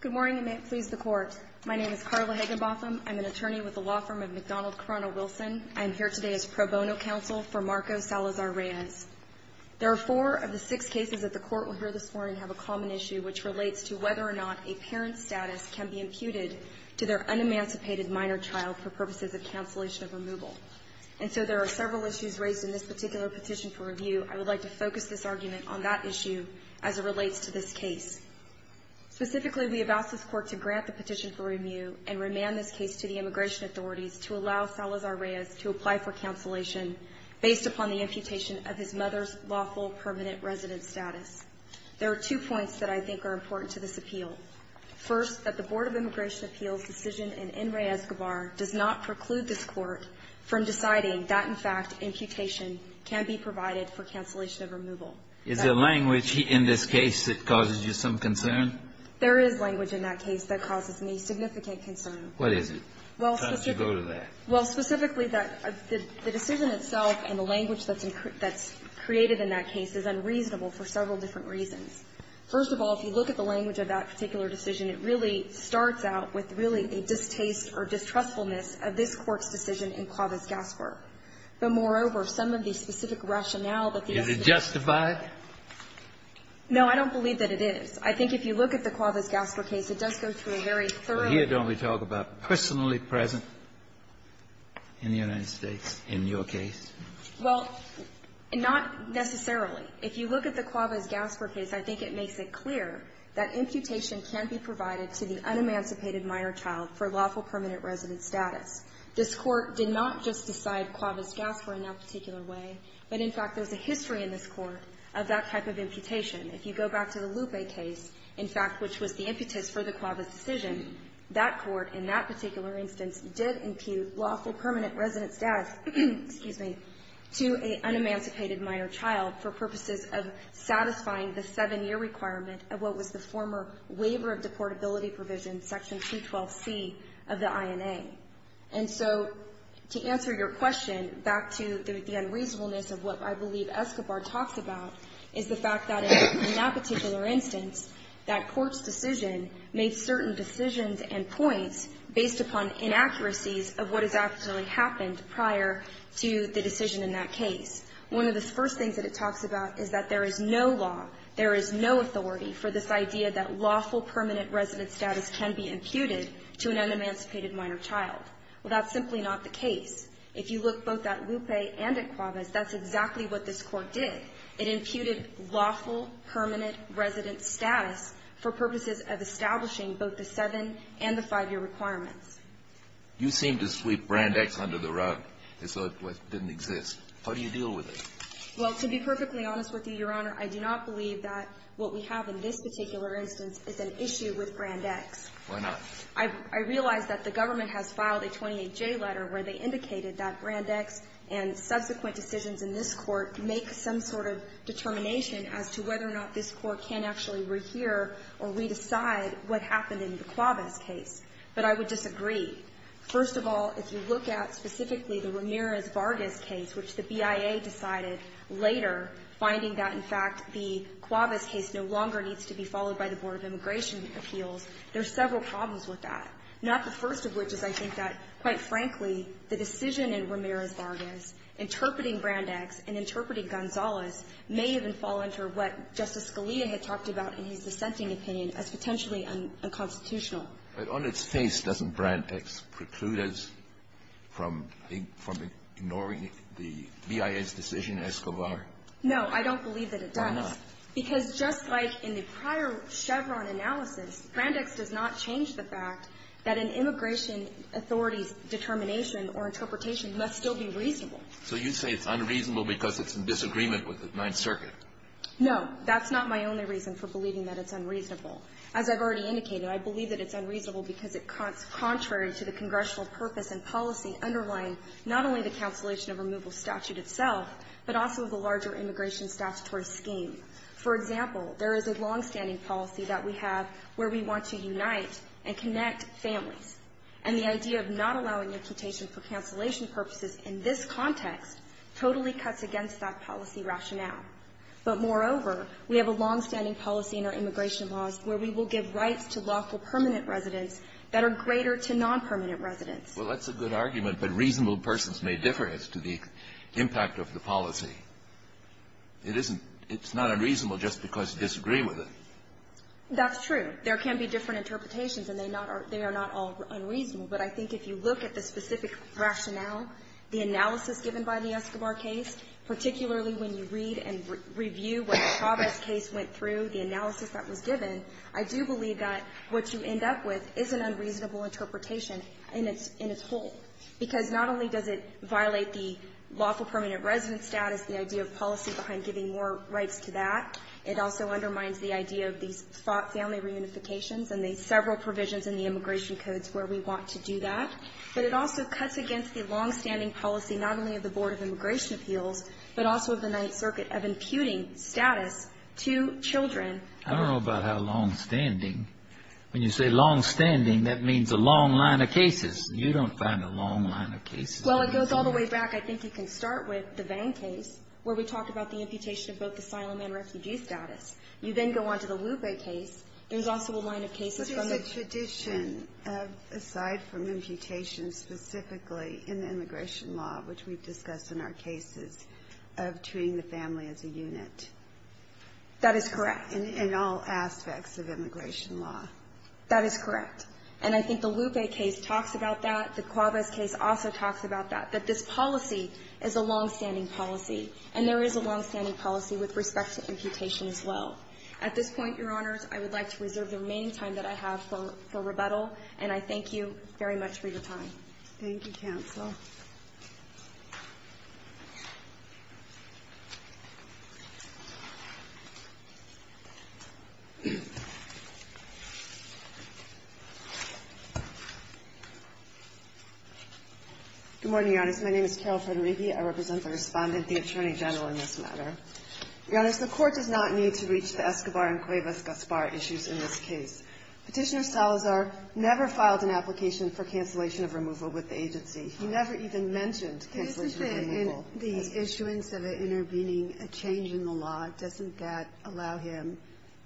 Good morning and may it please the Court. My name is Carla Hagenbotham. I'm an attorney with the law firm of McDonald-Corona-Wilson. I am here today as pro bono counsel for Marco Salazar-Reyes. There are four of the six cases that the Court will hear this morning have a common issue, which relates to whether or not a parent's status can be imputed to their unemancipated minor child for purposes of cancellation of removal. And so there are several issues raised in this particular petition for review. I would like to focus this argument on that issue as it relates to this case. Specifically, we have asked this Court to grant the petition for review and remand this case to the immigration authorities to allow Salazar-Reyes to apply for cancellation based upon the imputation of his mother's lawful permanent resident status. There are two points that I think are important to this appeal. First, that the Board of Immigration Appeals' decision in Enriquez-Guevara does not preclude this Court from deciding that, in fact, imputation can be provided for cancellation of removal. Is there language in this case that causes you some concern? There is language in that case that causes me significant concern. What is it? How does it go to that? Well, specifically, the decision itself and the language that's created in that case is unreasonable for several different reasons. First of all, if you look at the language of that particular decision, it really starts out with really a distaste or distrustfulness of this Court's decision in Clavis-Gasper. But, moreover, some of the specific rationale that the estimates provide. Is it justified? No, I don't believe that it is. I think if you look at the Clavis-Gasper case, it does go through very thoroughly. Well, here don't we talk about personally present in the United States in your case? Well, not necessarily. If you look at the Clavis-Gasper case, I think it makes it clear that imputation can be provided to the unemancipated minor child for lawful permanent resident status. This Court did not just decide Clavis-Gasper in that particular way, but, in fact, there's a history in this Court of that type of imputation. If you go back to the Lupe case, in fact, which was the impetus for the Clavis decision, that Court in that particular instance did impute lawful permanent resident status to an unemancipated minor child for purposes of satisfying the seven-year requirement of what was the former waiver of deportability provision, section 212C of the INA. And so to answer your question, back to the unreasonableness of what I believe Escobar talks about, is the fact that in that particular instance, that Court's decision made certain decisions and points based upon inaccuracies of what has actually happened prior to the decision in that case. One of the first things that it talks about is that there is no law, there is no authority for this idea that lawful permanent resident status can be imputed to an unemancipated minor child. Well, that's simply not the case. If you look both at Lupe and at Clavis, that's exactly what this Court did. It imputed lawful permanent resident status for purposes of establishing both the seven- and the five-year requirements. You seem to sweep Brand X under the rug as though it didn't exist. How do you deal with it? Well, to be perfectly honest with you, Your Honor, I do not believe that what we have in this particular instance is an issue with Brand X. Why not? I realize that the government has filed a 28J letter where they indicated that Brand X and subsequent decisions in this Court make some sort of determination as to whether or not this Court can actually rehear or re-decide what happened in the Clavis case. But I would disagree. First of all, if you look at specifically the Ramirez-Vargas case, which the BIA decided later, finding that, in fact, the Clavis case no longer needs to be followed by the Board of Immigration Appeals, there are several problems with that, not the first of which is, I think, that, quite frankly, the decision in Ramirez-Vargas interpreting Brand X and interpreting Gonzalez may even fall under what Justice Scalia had talked about in his dissenting opinion as potentially unconstitutional. But on its face, doesn't Brand X preclude us from ignoring the BIA's decision, Escobar? No. I don't believe that it does. Why not? Because just like in the prior Chevron analysis, Brand X does not change the fact that an immigration authority's determination or interpretation must still be reasonable. So you say it's unreasonable because it's in disagreement with the Ninth Circuit. That's not my only reason for believing that it's unreasonable. As I've already indicated, I believe that it's unreasonable because it's contrary to the congressional purpose and policy underlying not only the cancellation of removal statute itself, but also the larger immigration statutory scheme. For example, there is a longstanding policy that we have where we want to unite and connect families, and the idea of not allowing imputation for cancellation purposes in this context totally cuts against that policy rationale. But moreover, we have a longstanding policy in our immigration laws where we will give rights to lawful permanent residents that are greater to nonpermanent residents. Well, that's a good argument, but reasonable persons may differ as to the impact of the policy. It isn't – it's not unreasonable just because you disagree with it. That's true. There can be different interpretations, and they are not all unreasonable. case went through, the analysis that was given, I do believe that what you end up with is an unreasonable interpretation in its whole, because not only does it violate the lawful permanent resident status, the idea of policy behind giving more rights to that, it also undermines the idea of these family reunifications and the several provisions in the immigration codes where we want to do that. But it also cuts against the longstanding policy not only of the Board of Immigration Appeals, but also of the Ninth Circuit of imputing status to children. I don't know about how longstanding. When you say longstanding, that means a long line of cases. You don't find a long line of cases. Well, it goes all the way back. I think you can start with the Vang case, where we talked about the imputation of both asylum and refugee status. You then go on to the Wube case. There's also a line of cases from the – aside from imputation specifically in the immigration law, which we've discussed in our cases of treating the family as a unit. That is correct. In all aspects of immigration law. That is correct. And I think the Wube case talks about that. The Cuavez case also talks about that, that this policy is a longstanding policy, and there is a longstanding policy with respect to imputation as well. At this point, Your Honors, I would like to reserve the remaining time that I have for rebuttal, and I thank you very much for your time. Thank you, Counsel. Good morning, Your Honors. My name is Carol Federighi. I represent the Respondent, the Attorney General, in this matter. Your Honors, the Court does not need to reach the Escobar and Cuavez-Gaspar issues in this case. Petitioner Salazar never filed an application for cancellation of removal with the agency. He never even mentioned cancellation of removal. Isn't the issuance of intervening a change in the law? Doesn't that allow him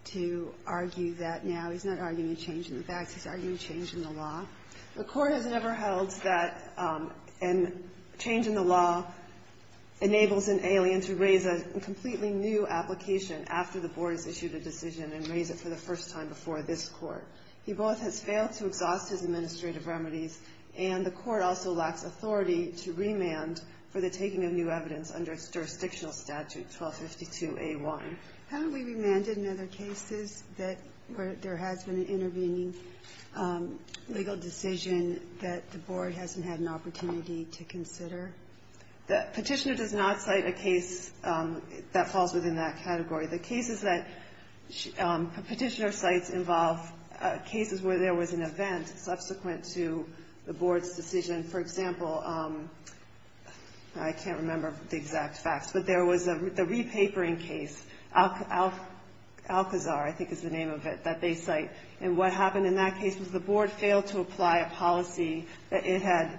to argue that now? He's not arguing a change in the facts. He's arguing a change in the law. The Court has never held that a change in the law enables an alien to raise a completely new application after the Board has issued a decision and raise it for the first time before this Court. He both has failed to exhaust his administrative remedies, and the Court also lacks authority to remand for the taking of new evidence under jurisdictional statute 1252A1. Haven't we remanded in other cases that where there has been an intervening legal decision that the Board hasn't had an opportunity to consider? The Petitioner does not cite a case that falls within that category. The cases that Petitioner cites involve cases where there was an event subsequent to the Board's decision. For example, I can't remember the exact facts, but there was the re-papering case, Alcazar, I think is the name of it, that they cite. And what happened in that case was the Board failed to apply a policy that it had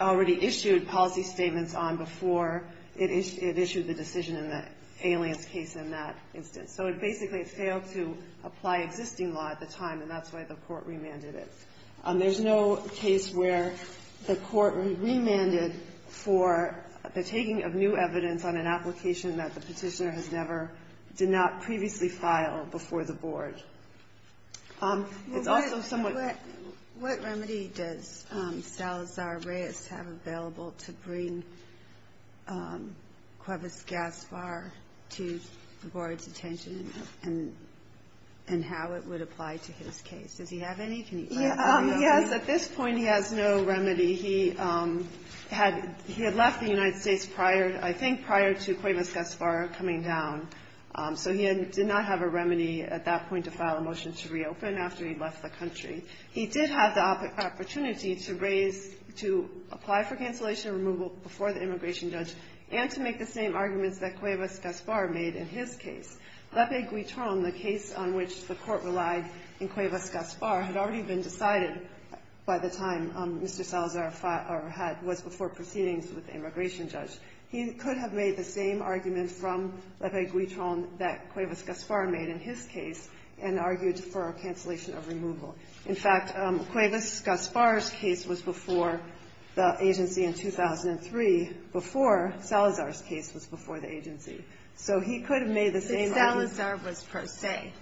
already issued policy statements on before it issued the decision in the alien's case in that instance. So it basically failed to apply existing law at the time, and that's why the Court remanded it. There's no case where the Court remanded for the taking of new evidence on an application that the Petitioner has never, did not previously file before the Board. It's also somewhat ---- have available to bring Cuevas-Gaspar to the Board's attention and how it would apply to his case. Does he have any? Can you clarify? Yes. At this point, he has no remedy. He had left the United States, I think, prior to Cuevas-Gaspar coming down. So he did not have a remedy at that point to file a motion to reopen after he left the country. He did have the opportunity to raise ---- to apply for cancellation of removal before the immigration judge and to make the same arguments that Cuevas-Gaspar made in his case. Lepe-Guitron, the case on which the Court relied in Cuevas-Gaspar, had already been decided by the time Mr. Salazar had ---- was before proceedings with the immigration judge. He could have made the same arguments from Lepe-Guitron that Cuevas-Gaspar made in his case and argued for a cancellation of removal. In fact, Cuevas-Gaspar's case was before the agency in 2003 before Salazar's case was before the agency. So he could have made the same arguments. But Salazar was pro se,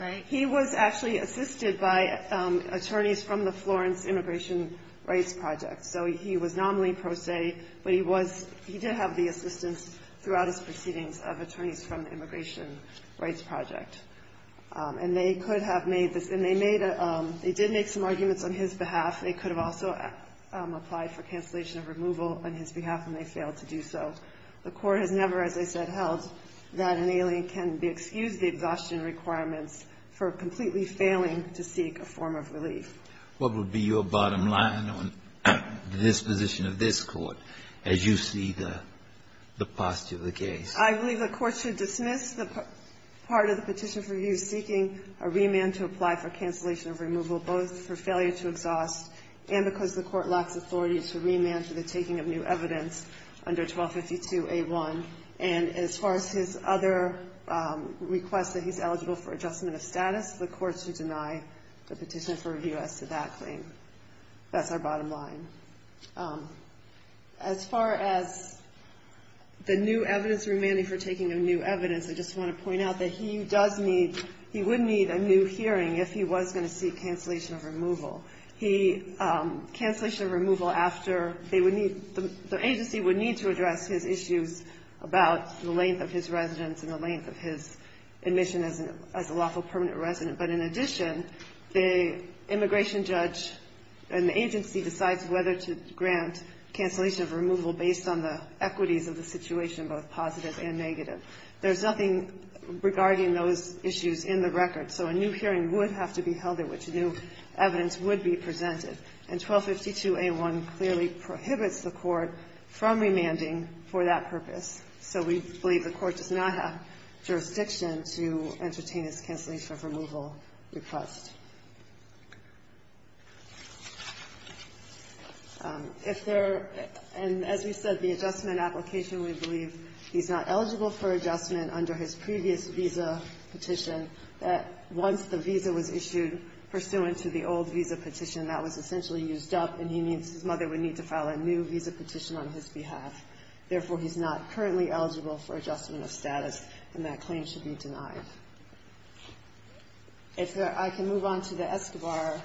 right? He was actually assisted by attorneys from the Florence Immigration Rights Project. So he was nominally pro se, but he was ---- he did have the assistance throughout his proceedings of attorneys from the Immigration Rights Project. And they could have made this. And they made a ---- they did make some arguments on his behalf. They could have also applied for cancellation of removal on his behalf, and they failed to do so. The Court has never, as I said, held that an alien can be excused the exhaustion requirements for completely failing to seek a form of relief. What would be your bottom line on the disposition of this Court as you see the postulate of the case? I believe the Court should dismiss the part of the petition for review seeking a remand to apply for cancellation of removal both for failure to exhaust and because the Court lacks authority to remand for the taking of new evidence under 1252A1. And as far as his other request that he's eligible for adjustment of status, the Court should deny the petition for review as to that claim. That's our bottom line. As far as the new evidence remanding for taking of new evidence, I just want to point out that he does need ---- he would need a new hearing if he was going to seek cancellation of removal. He ---- cancellation of removal after they would need ---- the agency would need to address his issues about the length of his residence and the length of his admission as a lawful permanent resident. But in addition, the immigration judge and the agency decides whether to grant cancellation of removal based on the equities of the situation, both positive and negative. There's nothing regarding those issues in the record. So a new hearing would have to be held at which new evidence would be presented. And 1252A1 clearly prohibits the Court from remanding for that purpose. So we believe the Court does not have jurisdiction to entertain this cancellation of removal request. If there ---- and as we said, the adjustment application, we believe he's not eligible for adjustment under his previous visa petition that once the visa was issued pursuant to the old visa petition, that was essentially used up and he needs ---- his mother would need to file a new visa petition on his behalf. Therefore, he's not currently eligible for adjustment of status, and that claim should be denied. If there ---- I can move on to the Escobar.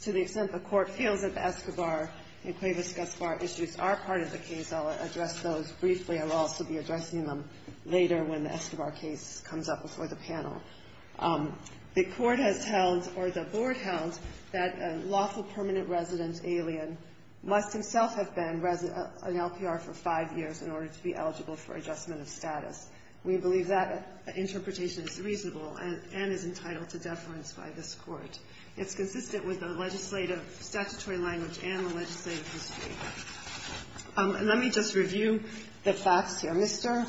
To the extent the Court feels that the Escobar and Cuevas-Gaspar issues are part of the case, I'll address those briefly. I'll also be addressing them later when the Escobar case comes up before the panel. The Court has held or the Board held that a lawful permanent resident alien must himself have been an LPR for five years in order to be eligible for adjustment of status. We believe that interpretation is reasonable and is entitled to deference by this Court. It's consistent with the legislative statutory language and the legislative history. And let me just review the facts here. Mr.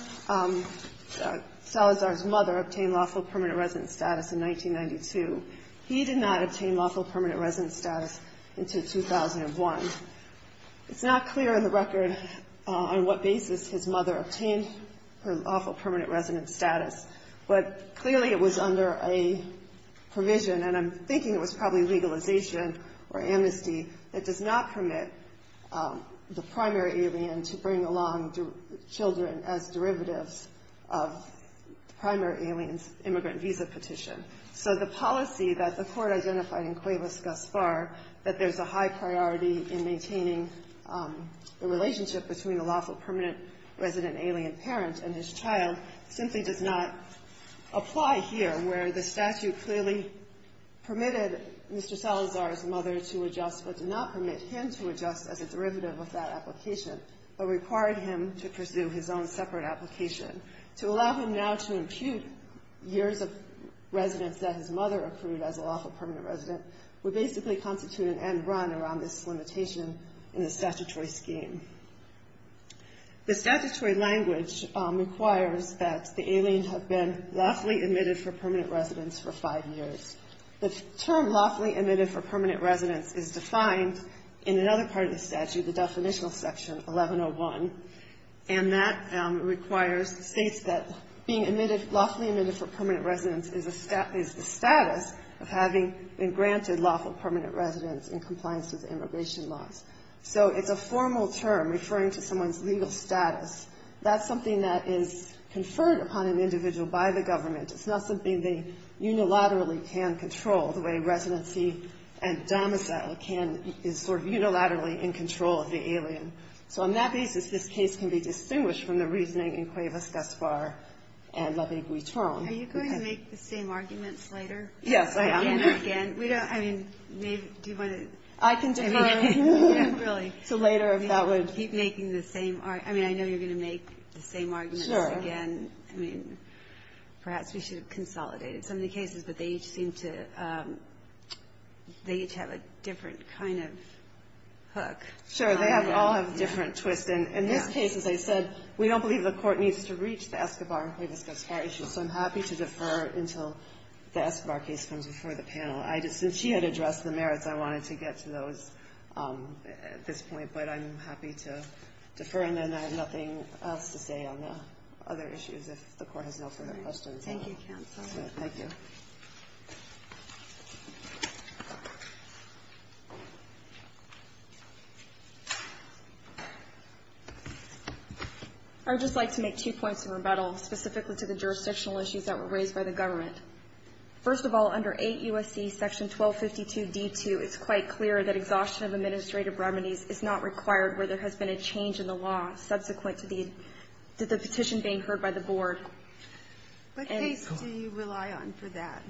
Salazar's mother obtained lawful permanent resident status in 1992. He did not obtain lawful permanent resident status until 2001. It's not clear in the record on what basis his mother obtained her lawful permanent resident status, but clearly it was under a provision, and I'm thinking it was probably legalization or amnesty, that does not permit the primary alien to bring along children as derivatives of the primary alien's immigrant visa petition. So the policy that the Court identified in Cuevas-Gaspar that there's a high priority in maintaining the relationship between a lawful permanent resident alien parent and his child simply does not apply here, where the statute clearly permitted Mr. Salazar's mother to adjust, but did not permit him to adjust as a derivative of that application, but required him to pursue his own separate application. To allow him now to impute years of residence that his mother accrued as a lawful permanent resident would basically constitute an end run around this limitation in the statutory scheme. The statutory language requires that the alien have been lawfully admitted for permanent residence for five years. The term lawfully admitted for permanent residence is defined in another part of the statute, the definitional section 1101, and that requires, states that being granted lawful permanent residence in compliance with immigration laws. So it's a formal term referring to someone's legal status. That's something that is conferred upon an individual by the government. It's not something they unilaterally can control the way residency and domicile can, is sort of unilaterally in control of the alien. So on that basis, this case can be distinguished from the reasoning in Cuevas-Gaspar and La Viguitron. Are you going to make the same arguments later? Yes, I am. And again, we don't, I mean, do you want to? I can defer. Really. So later, if that would. Keep making the same, I mean, I know you're going to make the same arguments again. Sure. I mean, perhaps we should have consolidated some of the cases, but they each seem to, they each have a different kind of hook. Sure. They all have a different twist. In this case, as I said, we don't believe the court needs to reach the Escobar Cuevas-Gaspar issue, so I'm happy to defer until the Escobar case comes before the panel. Since she had addressed the merits, I wanted to get to those at this point, but I'm happy to defer. And then I have nothing else to say on the other issues if the court has no further questions. Thank you, counsel. Thank you. I would just like to make two points of rebuttal specifically to the jurisdictional issues that were raised by the government. First of all, under 8 U.S.C. section 1252d2, it's quite clear that exhaustion of administrative remedies is not required where there has been a change in the law subsequent to the petition being heard by the board. What case do you rely on for that?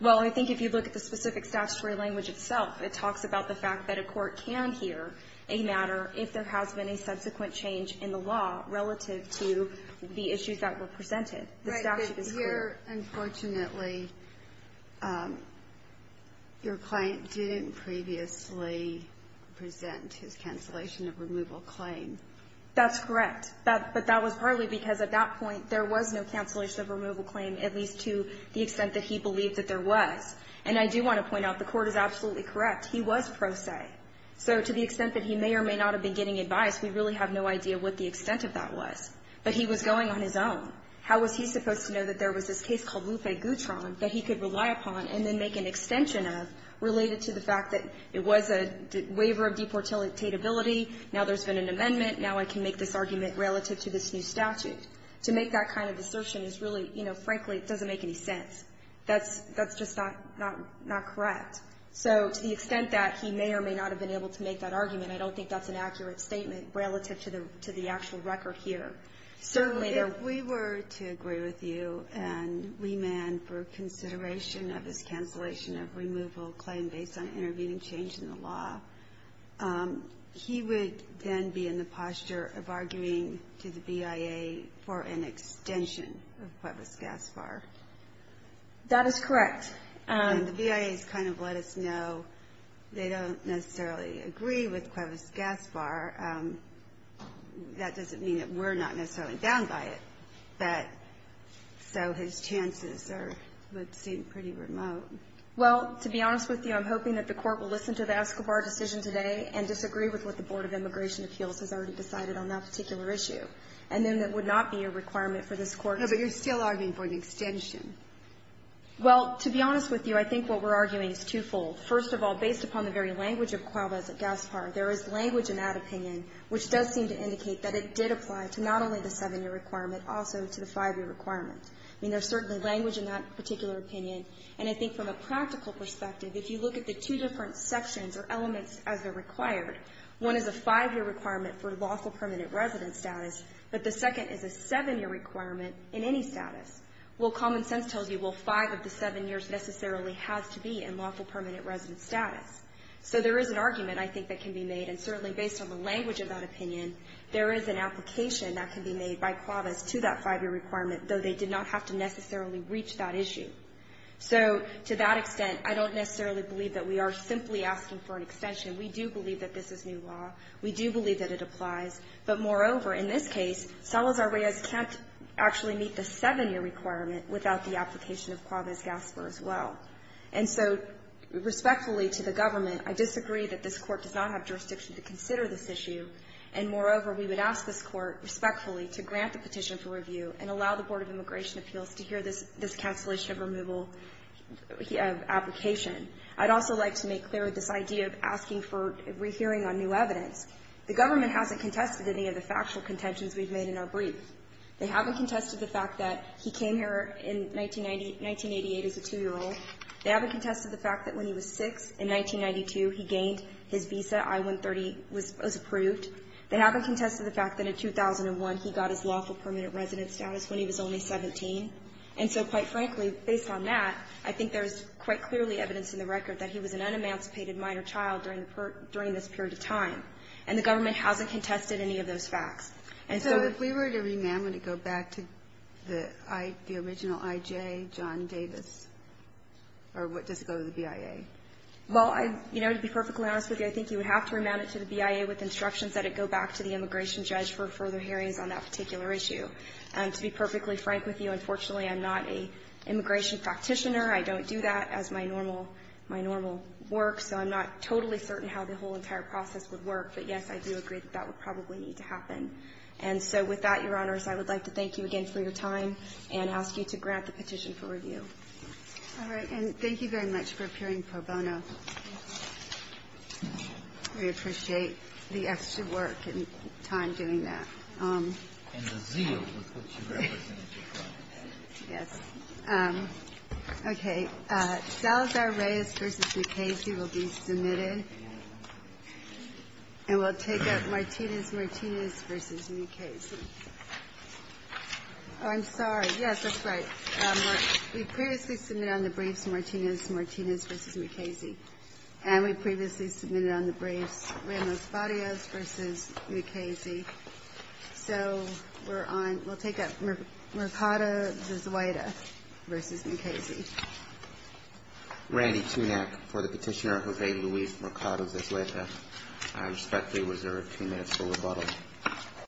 Well, I think if you look at the specific statutory language itself, it talks about the fact that a court can hear a matter if there has been a subsequent change in the law relative to the issues that were presented. The statute is clear. Right. But here, unfortunately, your client didn't previously present his cancellation of removal claim. That's correct. But that was partly because at that point there was no cancellation of removal claim, at least to the extent that he believed that there was. And I do want to point out the Court is absolutely correct. He was pro se. So to the extent that he may or may not have been getting advice, we really have no idea what the extent of that was. But he was going on his own. How was he supposed to know that there was this case called Lupe Gutron that he could rely upon and then make an extension of related to the fact that it was a waiver of deportatability, now there's been an amendment, now I can make this argument relative to this new statute. To make that kind of assertion is really, you know, frankly, it doesn't make any sense. That's just not correct. So to the extent that he may or may not have been able to make that argument, I don't think that's an accurate statement relative to the actual record here. Certainly, there are other reasons. If we were to agree with you and remand for consideration of his cancellation of removal claim based on intervening change in the law, he would then be in the position for an extension of Cuevas-Gaspar. That is correct. And the BIA has kind of let us know they don't necessarily agree with Cuevas-Gaspar. That doesn't mean that we're not necessarily bound by it. But so his chances would seem pretty remote. Well, to be honest with you, I'm hoping that the Court will listen to the Escobar decision today and disagree with what the Board of Immigration Appeals has already decided on that particular issue. And then that would not be a requirement for this Court to do. No, but you're still arguing for an extension. Well, to be honest with you, I think what we're arguing is twofold. First of all, based upon the very language of Cuevas-Gaspar, there is language in that opinion which does seem to indicate that it did apply to not only the 7-year requirement, also to the 5-year requirement. I mean, there's certainly language in that particular opinion. And I think from a practical perspective, if you look at the two different sections or elements as they're required, one is a 5-year requirement for lawful permanent resident status, but the second is a 7-year requirement in any status. Well, common sense tells you, well, five of the seven years necessarily has to be in lawful permanent resident status. So there is an argument, I think, that can be made. And certainly based on the language of that opinion, there is an application that can be made by Cuevas to that 5-year requirement, though they did not have to necessarily reach that issue. So to that extent, I don't necessarily believe that we are simply asking for an extension. We do believe that this is new law. We do believe that it applies. But moreover, in this case, Salazar-Reyes can't actually meet the 7-year requirement without the application of Cuevas-Gasper as well. And so respectfully to the government, I disagree that this Court does not have jurisdiction to consider this issue. And moreover, we would ask this Court respectfully to grant the petition for review and allow the Board of Immigration Appeals to hear this cancellation of removal application. I'd also like to make clear this idea of asking for a rehearing on new evidence. The government hasn't contested any of the factual contentions we've made in our brief. They haven't contested the fact that he came here in 1980 as a 2-year-old. They haven't contested the fact that when he was 6, in 1992, he gained his visa. I-130 was approved. They haven't contested the fact that in 2001, he got his lawful permanent residence status when he was only 17. And so, quite frankly, based on that, I think there is quite clearly evidence in the record that he was an unemancipated minor child during this period of time. And the government hasn't contested any of those facts. And so if we were to remand, would it go back to the original I.J., John Davis? Or does it go to the BIA? Well, you know, to be perfectly honest with you, I think you would have to remand it to the BIA with instructions that it go back to the immigration judge for further hearings on that particular issue. To be perfectly frank with you, unfortunately, I'm not an immigration practitioner. I don't do that as my normal work. So I'm not totally certain how the whole entire process would work. But, yes, I do agree that that would probably need to happen. And so with that, Your Honors, I would like to thank you again for your time and ask you to grant the petition for review. All right. And thank you very much for appearing pro bono. We appreciate the extra work and time doing that. And the zeal with which you represent. Yes. Okay. Salazar-Reyes v. Mukasey will be submitted. And we'll take up Martinez-Martinez v. Mukasey. Oh, I'm sorry. Yes, that's right. We previously submitted on the briefs Martinez-Martinez v. Mukasey. And we previously submitted on the briefs Ramos-Barrios v. Mukasey. So we'll take up Mercado-Zaida v. Mukasey. Randy Tunack for the petitioner Jose Luis Mercado-Zaida. I respectfully reserve two minutes for rebuttal.